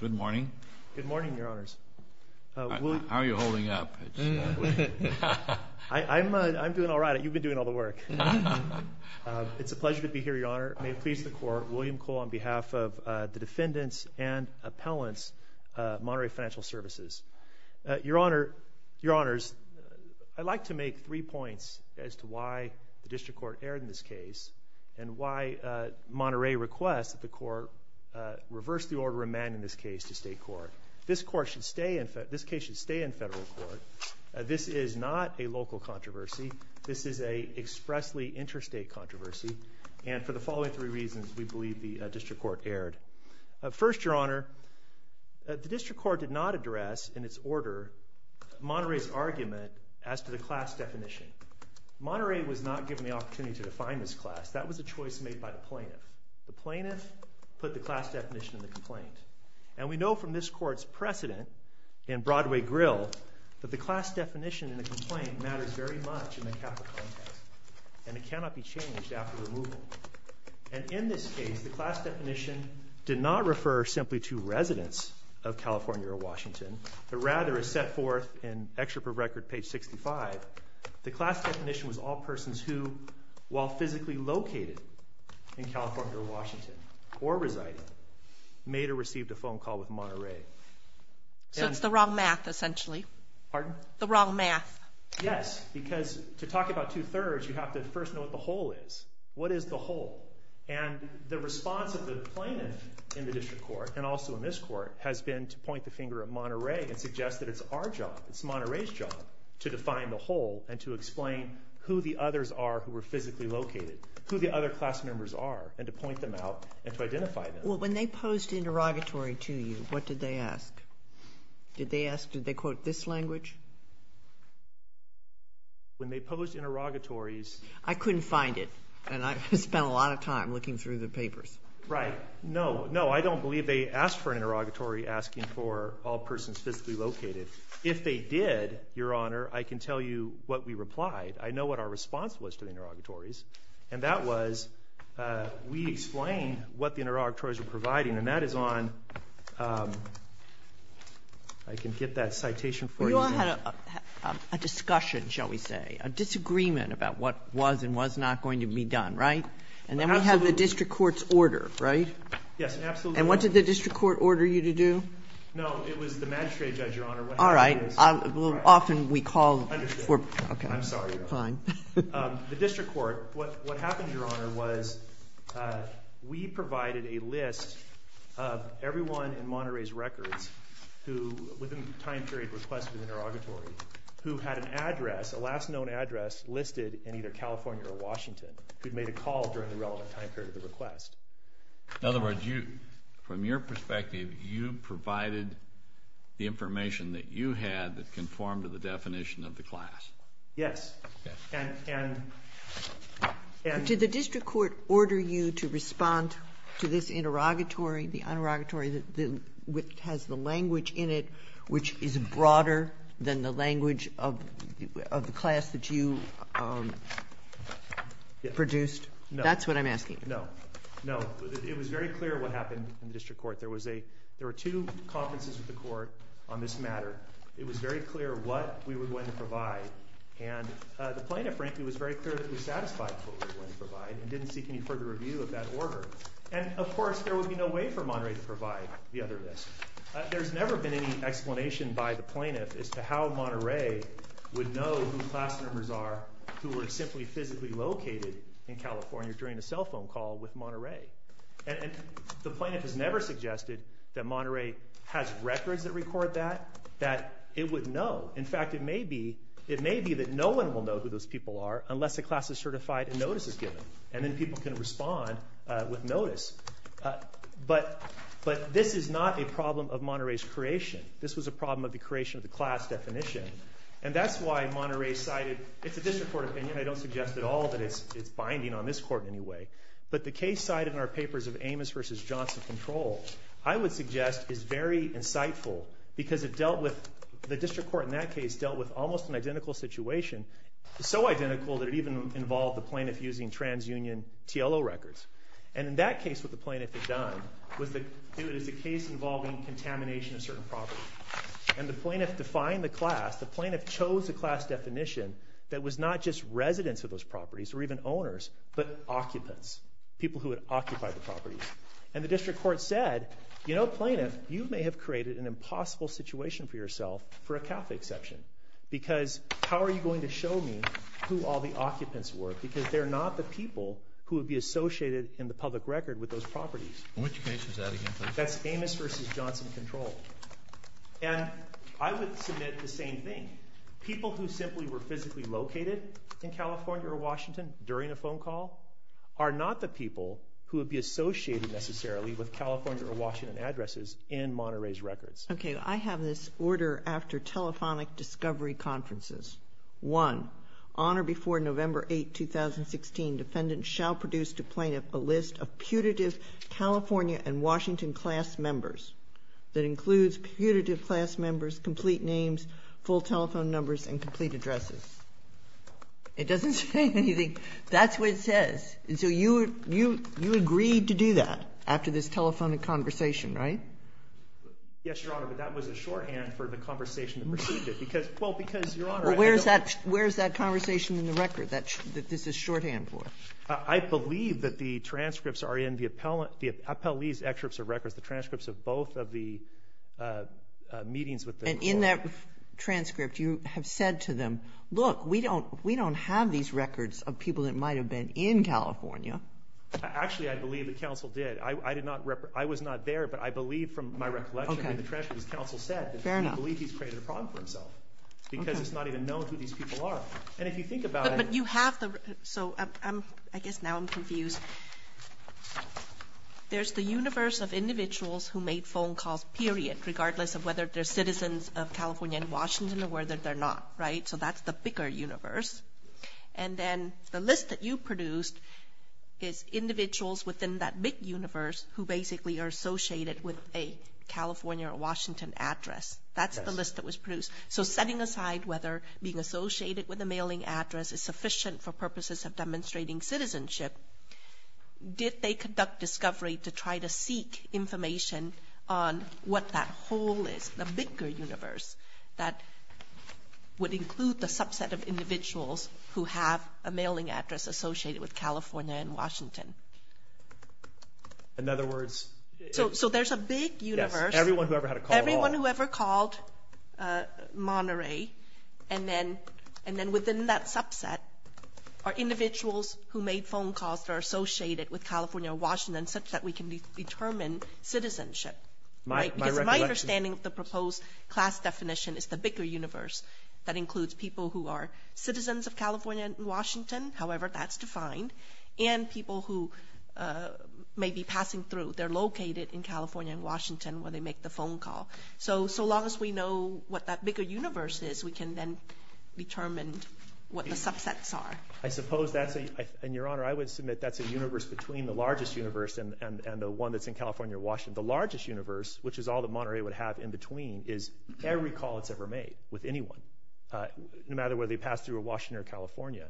Good morning. Good morning, Your Honors. How are you holding up? I'm doing all right. You've been doing all the work. It's a pleasure to be here, Your Honor. May it please the Court, William Cole on behalf of the defendants and appellants, Monterey Financial Services. Your Honor, Your Honors, I'd like to make three points as to why the district court erred in this case and why Monterey requests that the Court reverse the order of man in this case to state court. This case should stay in federal court. This is not a local controversy. This is an expressly interstate controversy. And for the following three reasons, we believe the district court erred. First, Your Honor, the district court did not address in its order Monterey's argument as to the class definition. Monterey was not given the opportunity to define this class. That was a choice made by the plaintiff. The plaintiff put the class definition in the complaint. And we know from this court's precedent in Broadway Grill that the class definition in the complaint matters very much in the capital context. And it cannot be changed after removal. And in this case, the class definition did not refer simply to residents of California or Washington, but rather is set forth in Excerpt of Record, page 65, the class definition was all persons who, while physically located in California or Washington or residing, made or received a phone call with Monterey. So it's the wrong math, essentially. Pardon? The wrong math. Yes, because to talk about two-thirds, you have to first know what the whole is. What is the whole? And the response of the plaintiff in the district court and also in this court has been to point the finger at Monterey and suggest that it's our job, it's Monterey's job, to define the whole and to explain who the others are who are physically located, who the other class members are, and to point them out and to identify them. Well, when they posed interrogatory to you, what did they ask? Did they ask, did they quote this language? When they posed interrogatories. I couldn't find it, and I spent a lot of time looking through the papers. Right. No, no, I don't believe they asked for an interrogatory asking for all persons physically located. If they did, Your Honor, I can tell you what we replied. I know what our response was to the interrogatories, and that was we explained what the interrogatories were providing, and that is on, I can get that citation for you. You had a discussion, shall we say, a disagreement about what was and was not going to be done, right? Absolutely. And then we have the district court's order, right? Yes, absolutely. And what did the district court order you to do? No, it was the magistrate judge, Your Honor. All right. Often we call for... Understood. Okay. I'm sorry, Your Honor. Fine. The district court, what happened, Your Honor, was we provided a list of everyone in Monterey's records with a time period request for an interrogatory who had an address, a last known address, listed in either California or Washington, who had made a call during the relevant time period of the request. In other words, from your perspective, you provided the information that you had that conformed to the definition of the class. Yes. Okay. Did the district court order you to respond to this interrogatory, the interrogatory that has the language in it which is broader than the language of the class that you produced? No. That's what I'm asking. No. No. It was very clear what happened in the district court. There were two conferences with the court on this matter. It was very clear what we were going to provide. And the plaintiff, frankly, was very clear that he was satisfied with what we were going to provide and didn't seek any further review of that order. And, of course, there would be no way for Monterey to provide the other list. There's never been any explanation by the plaintiff as to how Monterey would know whose class members are who were simply physically located in California during a cell phone call with Monterey. And the plaintiff has never suggested that Monterey has records that record that, that it would know. In fact, it may be that no one will know who those people are unless a class is certified and notice is given. And then people can respond with notice. But this is not a problem of Monterey's creation. This was a problem of the creation of the class definition. And that's why Monterey cited, it's a district court opinion. I don't suggest at all that it's binding on this court in any way. But the case cited in our papers of Amos v. Johnson Control, I would suggest, is very insightful because it dealt with, the district court in that case dealt with almost an identical situation, so identical that it even involved the plaintiff using transunion TLO records. And in that case what the plaintiff had done was to do it as a case involving contamination of certain properties. And the plaintiff defined the class, the plaintiff chose a class definition that was not just residents of those properties or even owners, but occupants, people who had occupied the properties. And the district court said, you know, plaintiff, you may have created an impossible situation for yourself for a Catholic exception. Because how are you going to show me who all the occupants were? Because they're not the people who would be associated in the public record with those properties. Which case is that again, please? That's Amos v. Johnson Control. And I would submit the same thing. People who simply were physically located in California or Washington during a phone call are not the people who would be associated necessarily with California or Washington addresses in Monterey's records. Okay, I have this order after telephonic discovery conferences. One, on or before November 8, 2016, defendants shall produce to plaintiff a list of putative California and Washington class members that includes putative class members, complete names, full telephone numbers, and complete addresses. It doesn't say anything. That's what it says. And so you agreed to do that after this telephonic conversation, right? Yes, Your Honor, but that was a shorthand for the conversation that preceded it. Well, because, Your Honor, I don't— Well, where is that conversation in the record that this is shorthand for? I believe that the transcripts are in the appellee's excerpts of records, the transcripts of both of the meetings with the court. In that transcript, you have said to them, look, we don't have these records of people that might have been in California. Actually, I believe that counsel did. I was not there, but I believe from my recollection in the transcript, as counsel said, that he believed he's created a problem for himself because it's not even known who these people are. And if you think about it— But you have the—so I guess now I'm confused. There's the universe of individuals who made phone calls, period, regardless of whether they're citizens of California and Washington or whether they're not, right? So that's the bigger universe. And then the list that you produced is individuals within that big universe who basically are associated with a California or Washington address. That's the list that was produced. So setting aside whether being associated with a mailing address is sufficient for purposes of demonstrating citizenship, did they conduct discovery to try to seek information on what that whole list, the bigger universe, that would include the subset of individuals who have a mailing address associated with California and Washington? In other words— So there's a big universe. Yes, everyone who ever had a call at all. Everyone who ever called Monterey, and then within that subset are individuals who made phone calls that are associated with California or Washington such that we can determine citizenship, right? Because my understanding of the proposed class definition is the bigger universe that includes people who are citizens of California and Washington, however that's defined, and people who may be passing through. They're located in California and Washington where they make the phone call. So long as we know what that bigger universe is, we can then determine what the subsets are. I suppose that's a—and, Your Honor, I would submit that's a universe between the largest universe and the one that's in California or Washington. The largest universe, which is all that Monterey would have in between, is every call it's ever made with anyone, no matter whether they pass through Washington or California.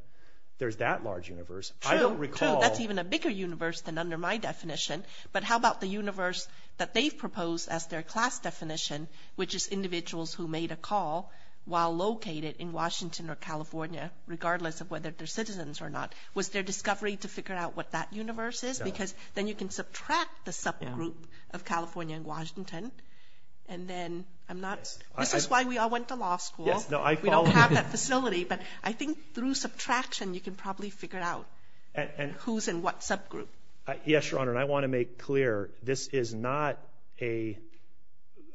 There's that large universe. True, true. I don't recall— That's even a bigger universe than under my definition. But how about the universe that they've proposed as their class definition, which is individuals who made a call while located in Washington or California, regardless of whether they're citizens or not. Was there discovery to figure out what that universe is? Because then you can subtract the subgroup of California and Washington, and then I'm not— This is why we all went to law school. We don't have that facility, but I think through subtraction you can probably figure out who's in what subgroup. Yes, Your Honor, and I want to make clear this is not a—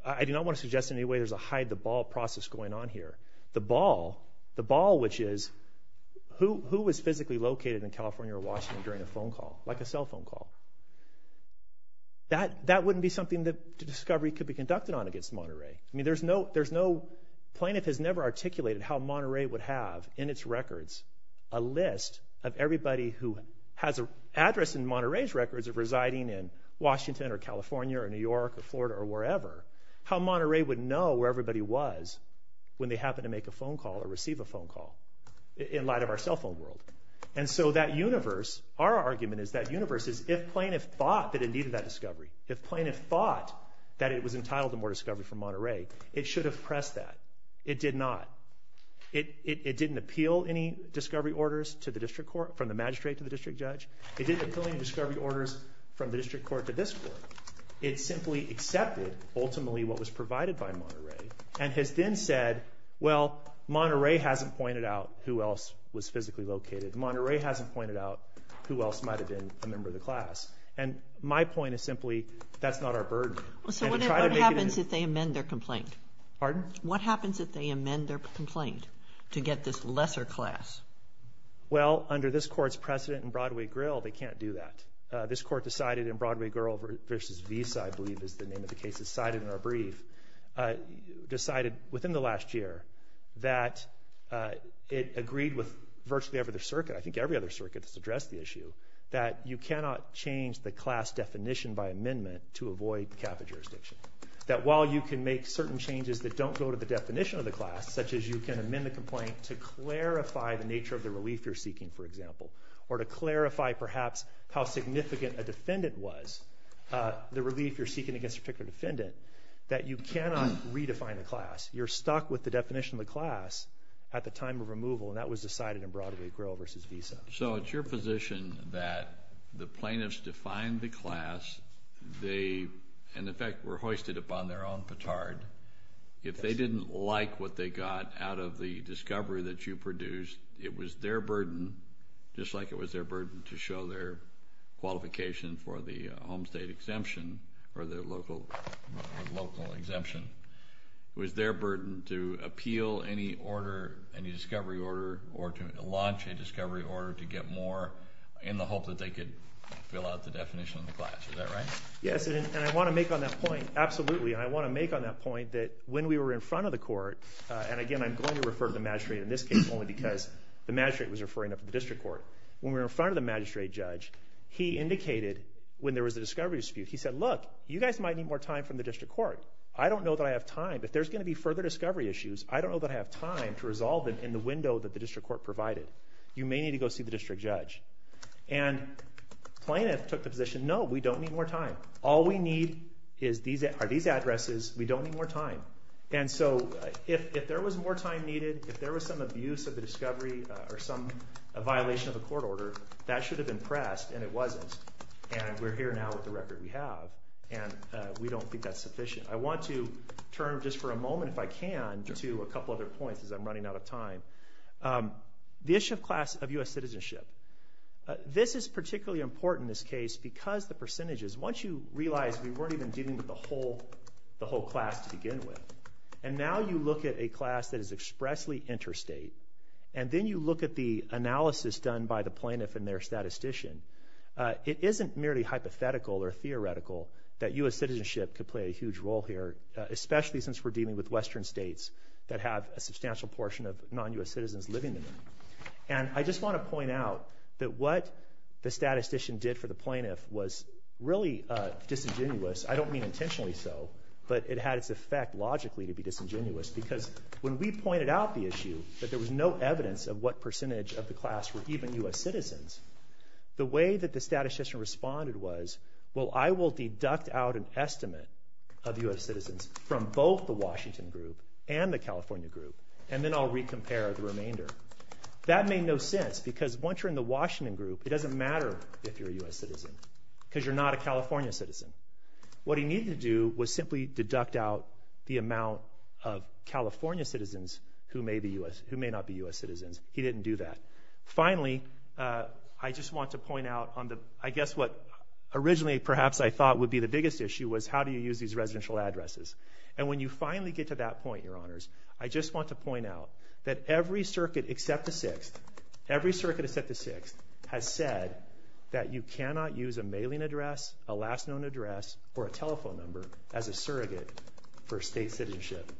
I do not want to suggest in any way there's a hide-the-ball process going on here. The ball—the ball, which is who was physically located in California or Washington during a phone call, like a cell phone call. That wouldn't be something that discovery could be conducted on against Monterey. I mean, there's no— Plaintiff has never articulated how Monterey would have in its records a list of everybody who has an address in Monterey's records of residing in Washington or California or New York or Florida or wherever, how Monterey would know where everybody was when they happened to make a phone call or receive a phone call in light of our cell phone world. And so that universe, our argument is that universe is, if plaintiff thought that it needed that discovery, if plaintiff thought that it was entitled to more discovery from Monterey, it should have pressed that. It did not. It didn't appeal any discovery orders to the district court, from the magistrate to the district judge. It didn't appeal any discovery orders from the district court to this court. It simply accepted, ultimately, what was provided by Monterey and has then said, well, Monterey hasn't pointed out who else was physically located. Monterey hasn't pointed out who else might have been a member of the class. And my point is simply, that's not our burden. So what happens if they amend their complaint? Pardon? What happens if they amend their complaint to get this lesser class? Well, under this court's precedent in Broadway Grille, they can't do that. This court decided in Broadway Grille v. Visa, I believe is the name of the case, decided in our brief, decided within the last year, that it agreed with virtually every other circuit, I think every other circuit that's addressed the issue, that you cannot change the class definition by amendment to avoid capital jurisdiction. That while you can make certain changes that don't go to the definition of the class, such as you can amend the complaint to clarify the nature of the relief you're seeking, for example, or to clarify, perhaps, how significant a defendant was, the relief you're seeking against a particular defendant, that you cannot redefine the class. You're stuck with the definition of the class at the time of removal, and that was decided in Broadway Grille v. Visa. So it's your position that the plaintiffs defined the class, they, in effect, were hoisted upon their own petard. If they didn't like what they got out of the discovery that you produced, it was their burden, just like it was their burden to show their qualification for the home state exemption, or the local exemption, it was their burden to appeal any order, any discovery order, or to launch a discovery order to get more, in the hope that they could fill out the definition of the class. Is that right? Yes, and I want to make on that point, absolutely, and I want to make on that point that when we were in front of the court, and again, I'm going to refer to the magistrate in this case, only because the magistrate was referring to the district court. When we were in front of the magistrate judge, he indicated when there was a discovery dispute, he said, look, you guys might need more time from the district court. I don't know that I have time. If there's going to be further discovery issues, I don't know that I have time to resolve them in the window that the district court provided. You may need to go see the district judge. And plaintiff took the position, no, we don't need more time. All we need are these addresses. We don't need more time. And so if there was more time needed, if there was some abuse of the discovery, or some violation of the court order, that should have been pressed, and it wasn't. And we're here now with the record we have, and we don't think that's sufficient. I want to turn just for a moment, if I can, to a couple other points as I'm running out of time. The issue of class of U.S. citizenship. This is particularly important in this case because the percentages, once you realize we weren't even dealing with the whole class to begin with, and now you look at a class that is expressly interstate, and then you look at the analysis done by the plaintiff and their statistician, it isn't merely hypothetical or theoretical that U.S. citizenship could play a huge role here, especially since we're dealing with western states that have a substantial portion of non-U.S. citizens living there. And I just want to point out that what the statistician did for the plaintiff was really disingenuous. I don't mean intentionally so, but it had its effect logically to be disingenuous because when we pointed out the issue, that there was no evidence of what percentage of the class were even U.S. citizens, the way that the statistician responded was, well, I will deduct out an estimate of U.S. citizens from both the Washington group and the California group, and then I'll re-compare the remainder. That made no sense because once you're in the Washington group, it doesn't matter if you're a U.S. citizen because you're not a California citizen. What he needed to do was simply deduct out the amount of California citizens who may not be U.S. citizens. He didn't do that. Finally, I just want to point out, I guess what originally perhaps I thought would be the biggest issue was how do you use these residential addresses. And when you finally get to that point, Your Honors, I just want to point out that every circuit except the 6th, every circuit except the 6th has said that you cannot use a mailing address, a last known address, or a telephone number as a surrogate for state citizenship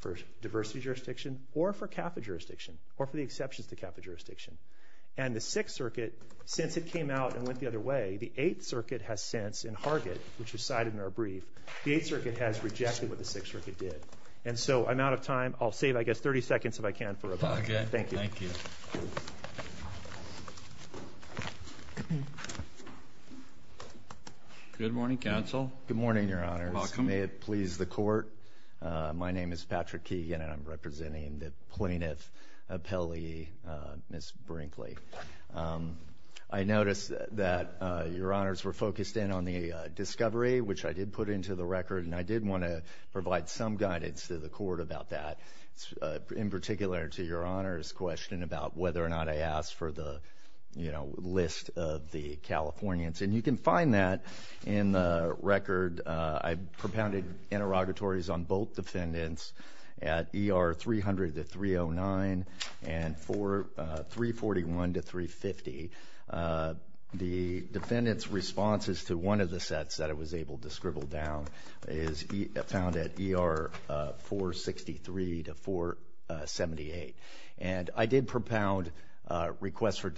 for diversity jurisdiction or for CAFA jurisdiction or for the exceptions to CAFA jurisdiction. And the 6th Circuit, since it came out and went the other way, the 8th Circuit has since, in Hargett, which is cited in our brief, the 8th Circuit has rejected what the 6th Circuit did. And so I'm out of time. I'll save, I guess, 30 seconds if I can for a moment. Okay. Thank you. Good morning, Counsel. Good morning, Your Honors. Welcome. May it please the Court, my name is Patrick Keegan and I'm representing the plaintiff appellee, Ms. Brinkley. I noticed that Your Honors were focused in on the discovery, which I did put into the record, and I did want to provide some guidance to the Court about that, in particular to Your Honors' question about whether or not I asked for the, you know, list of the Californians. And you can find that in the record. And I propounded interrogatories on both defendants at ER 300 to 309 and 341 to 350. The defendant's responses to one of the sets that I was able to scribble down is found at ER 463 to 478. And I did propound requests for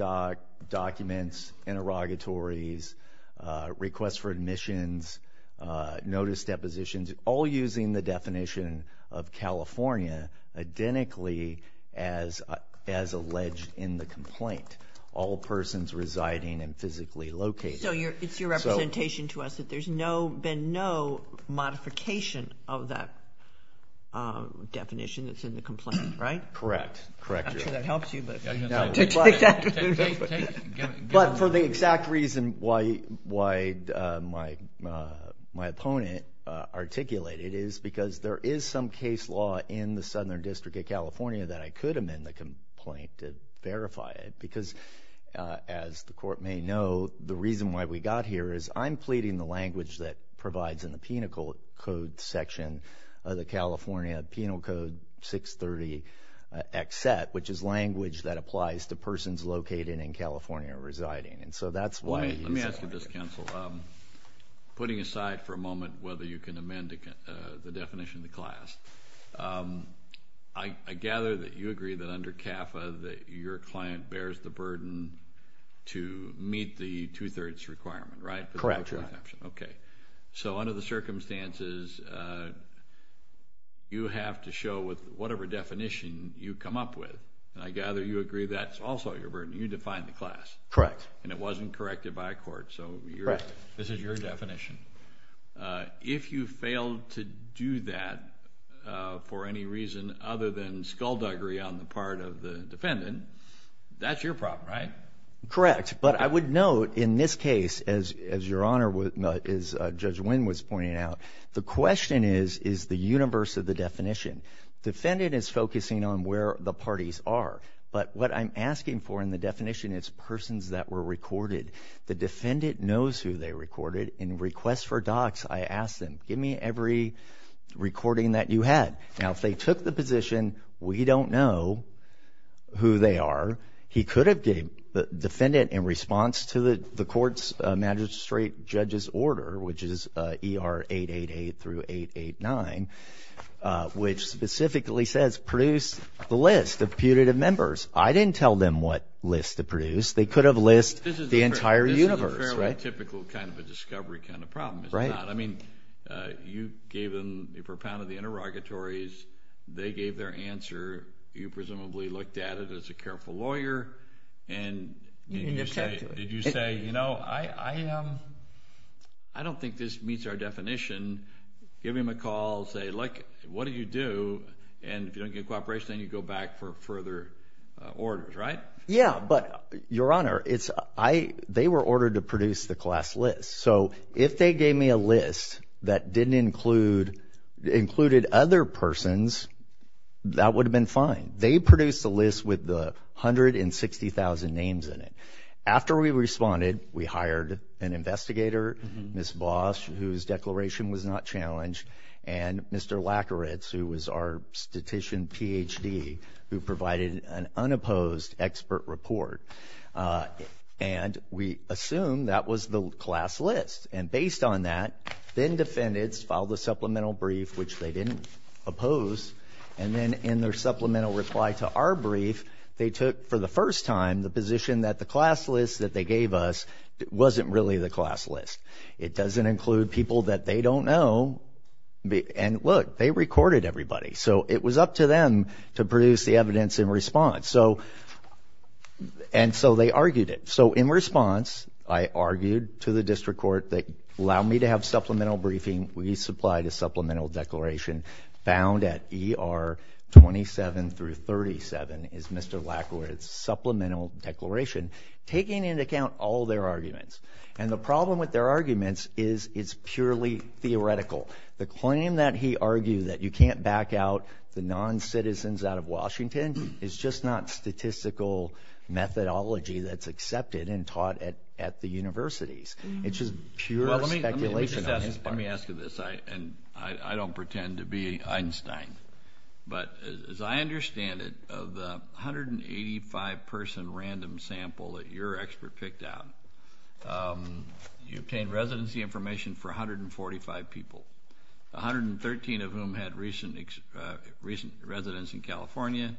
documents, interrogatories, requests for admissions, notice depositions, all using the definition of California, identically as alleged in the complaint, all persons residing and physically located. So it's your representation to us that there's been no modification of that definition that's in the complaint, right? Correct. Actually, that helps you. But for the exact reason why my opponent articulated is because there is some case law in the Southern District of California that I could amend the complaint to verify it because, as the Court may know, the reason why we got here is I'm pleading the language that provides in the Penal Code section of the California Penal Code 630XZ, which is language that applies to persons located in California or residing. And so that's why he's here. Let me ask you this, counsel. Putting aside for a moment whether you can amend the definition of the class, I gather that you agree that under CAFA that your client bears the burden to meet the two-thirds requirement, right? Correct. Okay. So under the circumstances, you have to show with whatever definition you come up with, and I gather you agree that's also your burden. You define the class. Correct. And it wasn't corrected by a court, so this is your definition. If you fail to do that for any reason other than skullduggery on the part of the defendant, that's your problem, right? Correct. But I would note in this case, as your Honor, as Judge Winn was pointing out, the question is, is the universe of the definition. Defendant is focusing on where the parties are, but what I'm asking for in the definition is persons that were recorded. The defendant knows who they recorded. In requests for docs, I ask them, give me every recording that you had. Now, if they took the position, we don't know who they are. He could have gave the defendant in response to the court's magistrate judge's order, which is ER 888 through 889, which specifically says, produce the list of putative members. I didn't tell them what list to produce. They could have listed the entire universe, right? This is a fairly typical kind of a discovery kind of problem, is it not? Right. I mean, you gave them, you propounded the interrogatories. They gave their answer. You presumably looked at it as a careful lawyer, and did you say, you know, I don't think this meets our definition, give him a call, say, look, what do you do, and if you don't get cooperation, then you go back for further orders, right? Yeah, but, Your Honor, they were ordered to produce the class list. So if they gave me a list that didn't include, included other persons, that would have been fine. They produced the list with the 160,000 names in it. After we responded, we hired an investigator, Ms. Bosch, whose declaration was not challenged, and Mr. Lakowicz, who was our statistician Ph.D., who provided an unopposed expert report. And we assumed that was the class list. And based on that, then defendants filed a supplemental brief, which they didn't oppose. And then in their supplemental reply to our brief, they took for the first time the position that the class list that they gave us wasn't really the class list. It doesn't include people that they don't know. And, look, they recorded everybody. So it was up to them to produce the evidence in response. And so they argued it. So in response, I argued to the district court, allow me to have supplemental briefing. We supplied a supplemental declaration found at ER 27 through 37, is Mr. Lakowicz's supplemental declaration, taking into account all their arguments. And the problem with their arguments is it's purely theoretical. The claim that he argued that you can't back out the noncitizens out of Washington is just not statistical methodology that's accepted and taught at the universities. It's just pure speculation on his part. Let me ask you this, and I don't pretend to be Einstein, but as I understand it, of the 185-person random sample that your expert picked out, you obtained residency information for 145 people, 113 of whom had recent residence in California.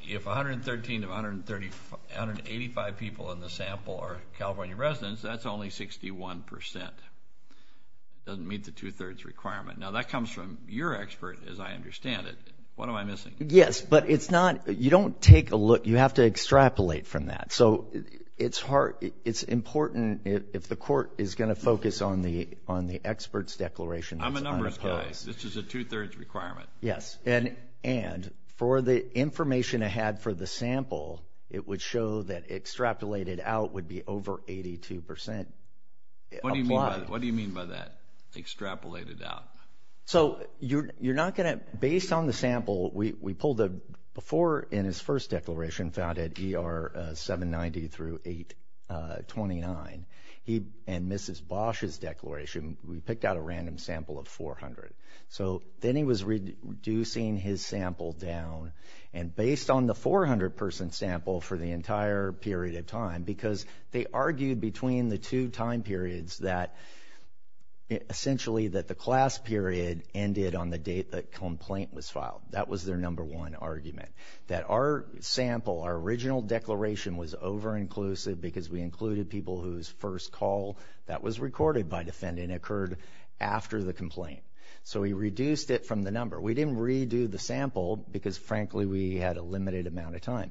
If 113 of 185 people in the sample are California residents, that's only 61%. It doesn't meet the two-thirds requirement. Now, that comes from your expert, as I understand it. What am I missing? Yes, but it's not you don't take a look. You have to extrapolate from that. So it's important if the court is going to focus on the expert's declaration. I'm a numbers guy. This is a two-thirds requirement. Yes, and for the information I had for the sample, it would show that extrapolated out would be over 82%. What do you mean by that, extrapolated out? So you're not going to, based on the sample, we pulled a, before in his first declaration found at ER 790 through 829, and Mrs. Bosch's declaration, we picked out a random sample of 400. So then he was reducing his sample down, and based on the 400-person sample for the entire period of time, because they argued between the two time periods that essentially that the class period ended on the date the complaint was filed. That was their number one argument, that our sample, our original declaration was over-inclusive because we included people whose first call that was recorded by defendant occurred after the complaint. So we reduced it from the number. We didn't redo the sample because, frankly, we had a limited amount of time.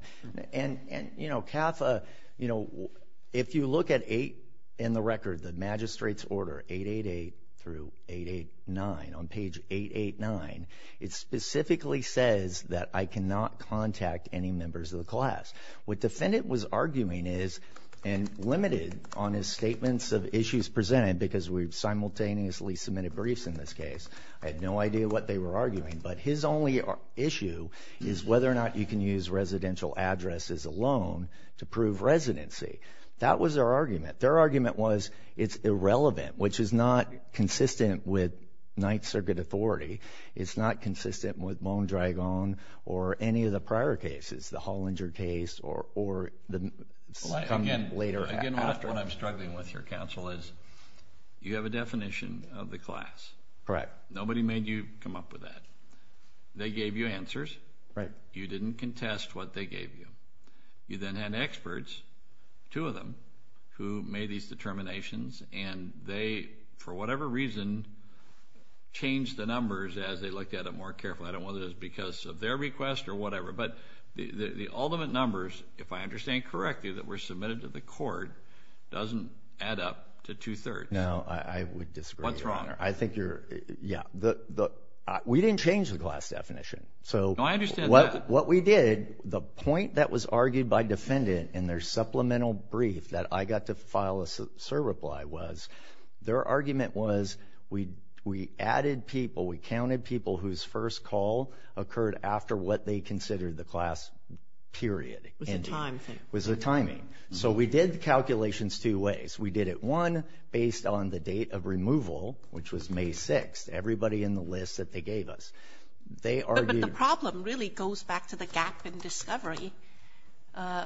And, you know, CAFA, you know, if you look at 8 in the record, the magistrate's order, 888 through 889, on page 889, it specifically says that I cannot contact any members of the class. What defendant was arguing is, and limited on his statements of issues presented because we simultaneously submitted briefs in this case, I had no idea what they were arguing, but his only issue is whether or not you can use residential addresses alone to prove residency. That was their argument. Their argument was it's irrelevant, which is not consistent with Ninth Circuit authority. It's not consistent with Mondragon or any of the prior cases, the Hollinger case or the later after. Again, what I'm struggling with here, counsel, is you have a definition of the class. Correct. Nobody made you come up with that. They gave you answers. Right. You didn't contest what they gave you. You then had experts, two of them, who made these determinations, and they, for whatever reason, changed the numbers as they looked at it more carefully. I don't know whether it was because of their request or whatever, but the ultimate numbers, if I understand correctly, that were submitted to the court doesn't add up to two-thirds. No, I would disagree, Your Honor. What's wrong? I think you're, yeah, we didn't change the class definition. No, I understand that. What we did, the point that was argued by defendant in their supplemental brief that I got to file a certify was their argument was we added people, we counted people whose first call occurred after what they considered the class period. It was the timing. It was the timing. So we did the calculations two ways. We did it, one, based on the date of removal, which was May 6th, everybody in the list that they gave us. But the problem really goes back to the gap in discovery.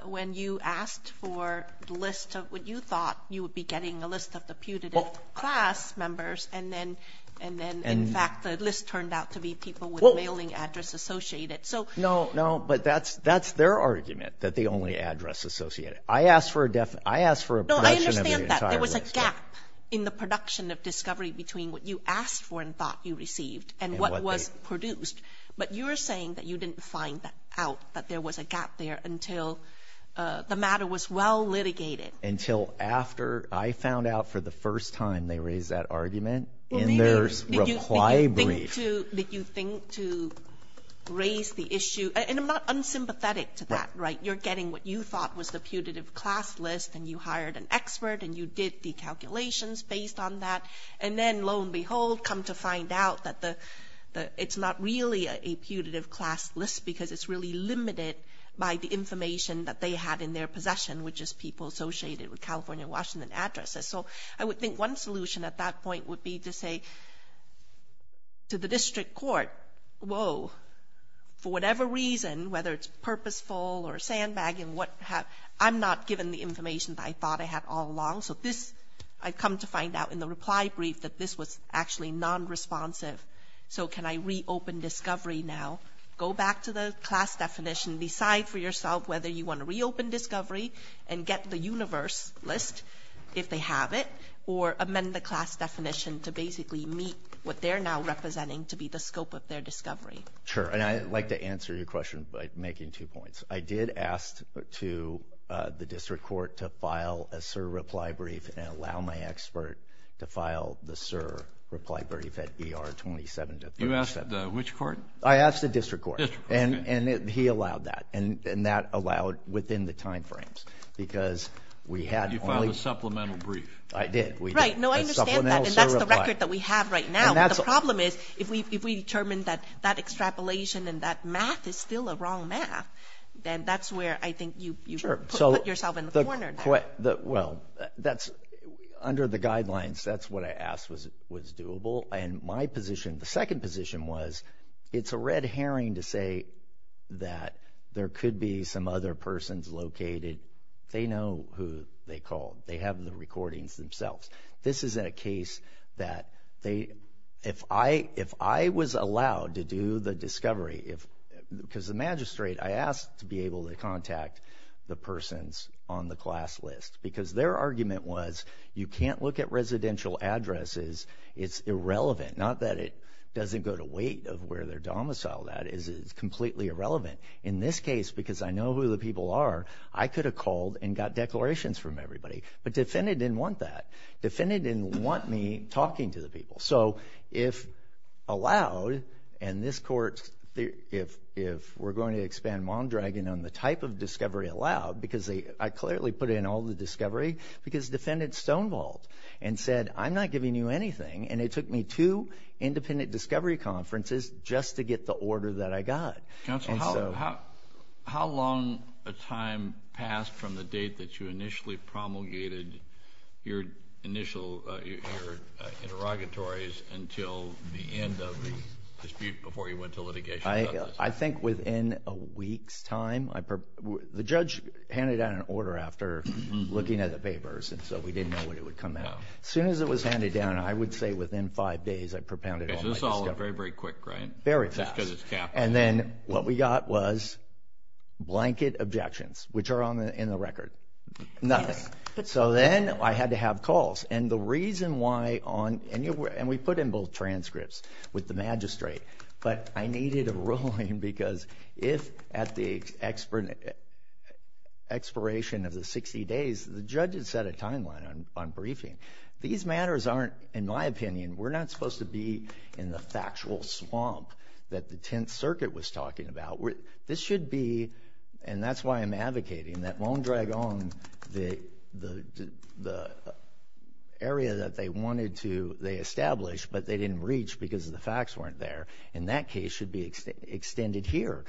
When you asked for the list of what you thought you would be getting, a list of the putative class members, and then, in fact, the list turned out to be people with mailing address associated. No, no, but that's their argument, that the only address associated. I asked for a production of the entire list. No, I understand that. There was a gap in the production of discovery between what you asked for and thought you received and what was produced. But you were saying that you didn't find out that there was a gap there until the matter was well litigated. Until after I found out for the first time they raised that argument in their reply brief. Did you think to raise the issue? And I'm not unsympathetic to that, right? You're getting what you thought was the putative class list, and you hired an expert, and you did the calculations based on that, and then, lo and behold, come to find out that it's not really a putative class list because it's really limited by the information that they had in their possession, which is people associated with California and Washington addresses. So I would think one solution at that point would be to say to the district court, whoa, for whatever reason, whether it's purposeful or sandbagging, I'm not given the information that I thought I had all along. So I've come to find out in the reply brief that this was actually nonresponsive. So can I reopen discovery now? Go back to the class definition. Decide for yourself whether you want to reopen discovery and get the universe list, if they have it, or amend the class definition to basically meet what they're now representing to be the scope of their discovery. Sure. And I'd like to answer your question by making two points. I did ask the district court to file a SIR reply brief and allow my expert to file the SIR reply brief at ER 27 to 37. You asked which court? I asked the district court. District court. And he allowed that, and that allowed within the time frames because we had only ---- You filed a supplemental brief. I did. Right. No, I understand that, and that's the record that we have right now. The problem is if we determine that that extrapolation and that math is still a wrong math, then that's where I think you put yourself in the corner there. Well, under the guidelines, that's what I asked was doable. The second position was it's a red herring to say that there could be some other persons located. They know who they called. They have the recordings themselves. This is a case that if I was allowed to do the discovery because the magistrate, I asked to be able to contact the persons on the class list because their argument was you can't look at residential addresses. It's irrelevant, not that it doesn't go to weight of where they're domiciled at. It's completely irrelevant. In this case, because I know who the people are, I could have called and got declarations from everybody, but defendant didn't want that. Defendant didn't want me talking to the people. So if allowed, and this court, if we're going to expand Mondragon on the type of discovery allowed because I clearly put in all the discovery because defendant stonewalled and said I'm not giving you anything, and it took me two independent discovery conferences just to get the order that I got. Counsel, how long a time passed from the date that you initially promulgated your interrogatories until the end of the dispute before you went to litigation? I think within a week's time. As soon as it was handed down, I would say within five days I propounded all my discovery. So this all went very, very quick, right? Very fast. Just because it's capital. And then what we got was blanket objections, which are in the record. Nothing. So then I had to have calls. And the reason why, and we put in both transcripts with the magistrate, but I needed a ruling because if at the expiration of the 60 days the judge had set a timeline on briefing, these matters aren't, in my opinion, we're not supposed to be in the factual swamp that the Tenth Circuit was talking about. This should be, and that's why I'm advocating that Mondragon, the area that they wanted to establish but they didn't reach because the facts weren't there, in that case should be extended here.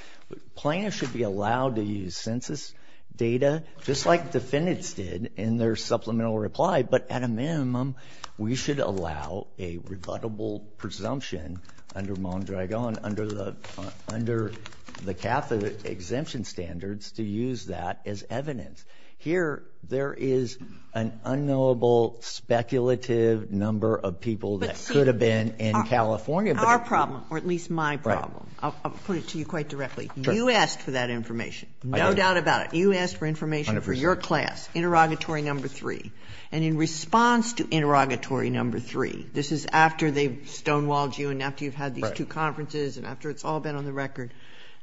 Plaintiffs should be allowed to use census data just like defendants did in their supplemental reply, but at a minimum we should allow a rebuttable presumption under Mondragon, under the Catholic exemption standards to use that as evidence. Here there is an unknowable speculative number of people that could have been in California. Our problem, or at least my problem, I'll put it to you quite directly. You asked for that information. No doubt about it. You asked for information for your class, interrogatory number three. And in response to interrogatory number three, this is after they've stonewalled you and after you've had these two conferences and after it's all been on the record,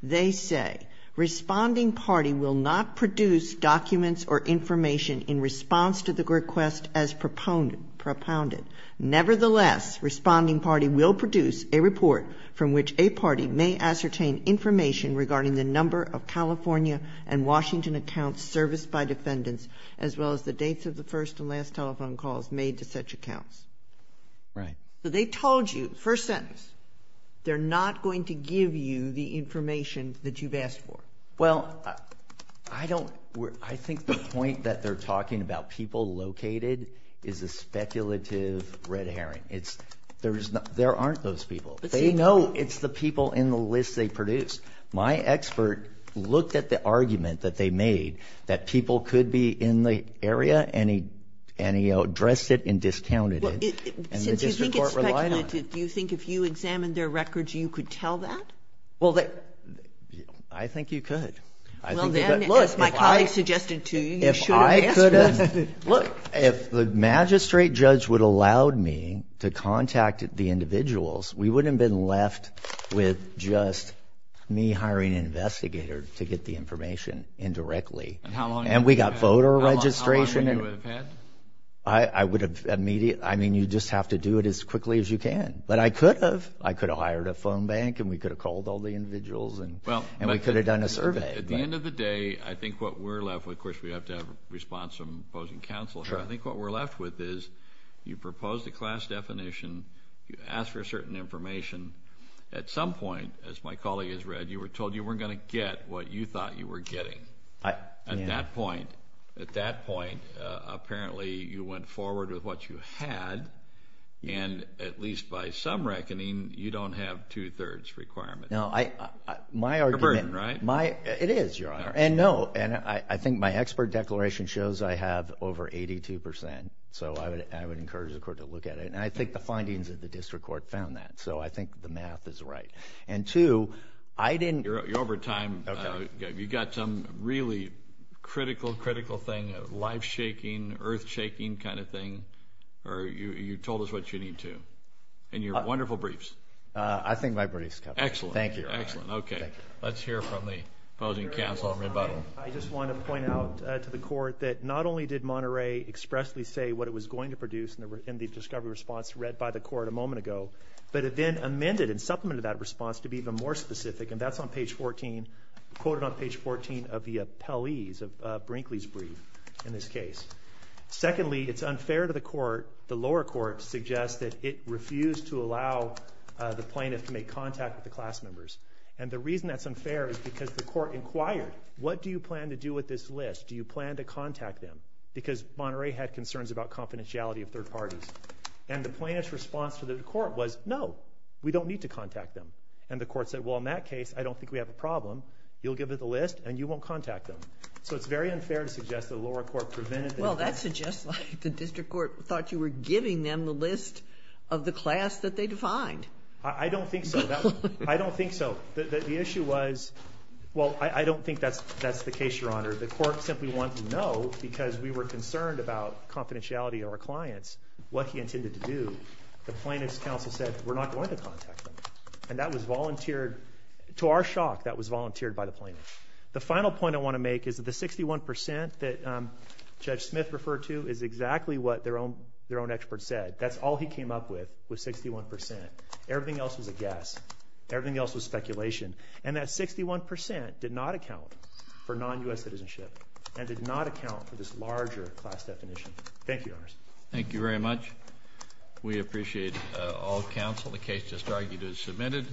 they say responding party will not produce documents or information in response to the request as propounded. Nevertheless, responding party will produce a report from which a party may ascertain information regarding the number of California and Washington accounts serviced by defendants as well as the dates of the first and last telephone calls made to such accounts. Right. So they told you, first sentence, they're not going to give you the information that you've asked for. Well, I think the point that they're talking about people located is a speculative red herring. There aren't those people. They know it's the people in the list they produced. My expert looked at the argument that they made that people could be in the area and he addressed it and discounted it. Since you think it's speculative, do you think if you examined their records you could tell that? Well, I think you could. Well, then, as my colleague suggested to you, you should have asked for this. If the magistrate judge would have allowed me to contact the individuals, we wouldn't have been left with just me hiring an investigator to get the information indirectly. And how long would you have had? And we got voter registration. How long would you have had? I mean, you just have to do it as quickly as you can. But I could have. I could have hired a phone bank and we could have called all the individuals and we could have done a survey. At the end of the day, I think what we're left with, of course, we have to have a response from opposing counsel. I think what we're left with is you propose the class definition, you ask for certain information. At some point, as my colleague has read, you were told you weren't going to get what you thought you were getting. At that point, at that point, apparently you went forward with what you had, and at least by some reckoning you don't have two-thirds requirement. Now, my argument. It's a burden, right? It is, Your Honor. And no, I think my expert declaration shows I have over 82 percent. So I would encourage the court to look at it. And I think the findings of the district court found that. So I think the math is right. And two, I didn't. You're over time. Okay. You've got some really critical, critical thing, life-shaking, earth-shaking kind of thing, or you told us what you need to in your wonderful briefs. I think my briefs. Excellent. Thank you, Your Honor. Okay. Let's hear from the opposing counsel in rebuttal. I just want to point out to the court that not only did Monterey expressly say what it was going to produce in the discovery response read by the court a moment ago, but it then amended and supplemented that response to be even more specific, and that's on page 14, quoted on page 14 of the appellee's, of Brinkley's brief in this case. Secondly, it's unfair to the court, the lower court, to suggest that it refused to allow the plaintiff to make contact with the class members. And the reason that's unfair is because the court inquired, what do you plan to do with this list? Do you plan to contact them? Because Monterey had concerns about confidentiality of third parties. And the plaintiff's response to the court was, no, we don't need to contact them. And the court said, well, in that case, I don't think we have a problem. You'll give us a list, and you won't contact them. So it's very unfair to suggest that the lower court prevented them. Well, that suggests the district court thought you were giving them the list of the class that they defined. I don't think so. I don't think so. The issue was, well, I don't think that's the case, Your Honor. The court simply wanted to know, because we were concerned about confidentiality of our clients, what he intended to do. The plaintiff's counsel said, we're not going to contact them. And that was volunteered. To our shock, that was volunteered by the plaintiff. The final point I want to make is that the 61% that Judge Smith referred to is exactly what their own expert said. That's all he came up with was 61%. Everything else was a guess. Everything else was speculation. And that 61% did not account for non-U.S. citizenship and did not account for this larger class definition. Thank you, Your Honor. Thank you very much. We appreciate all counsel. The case just argued is submitted.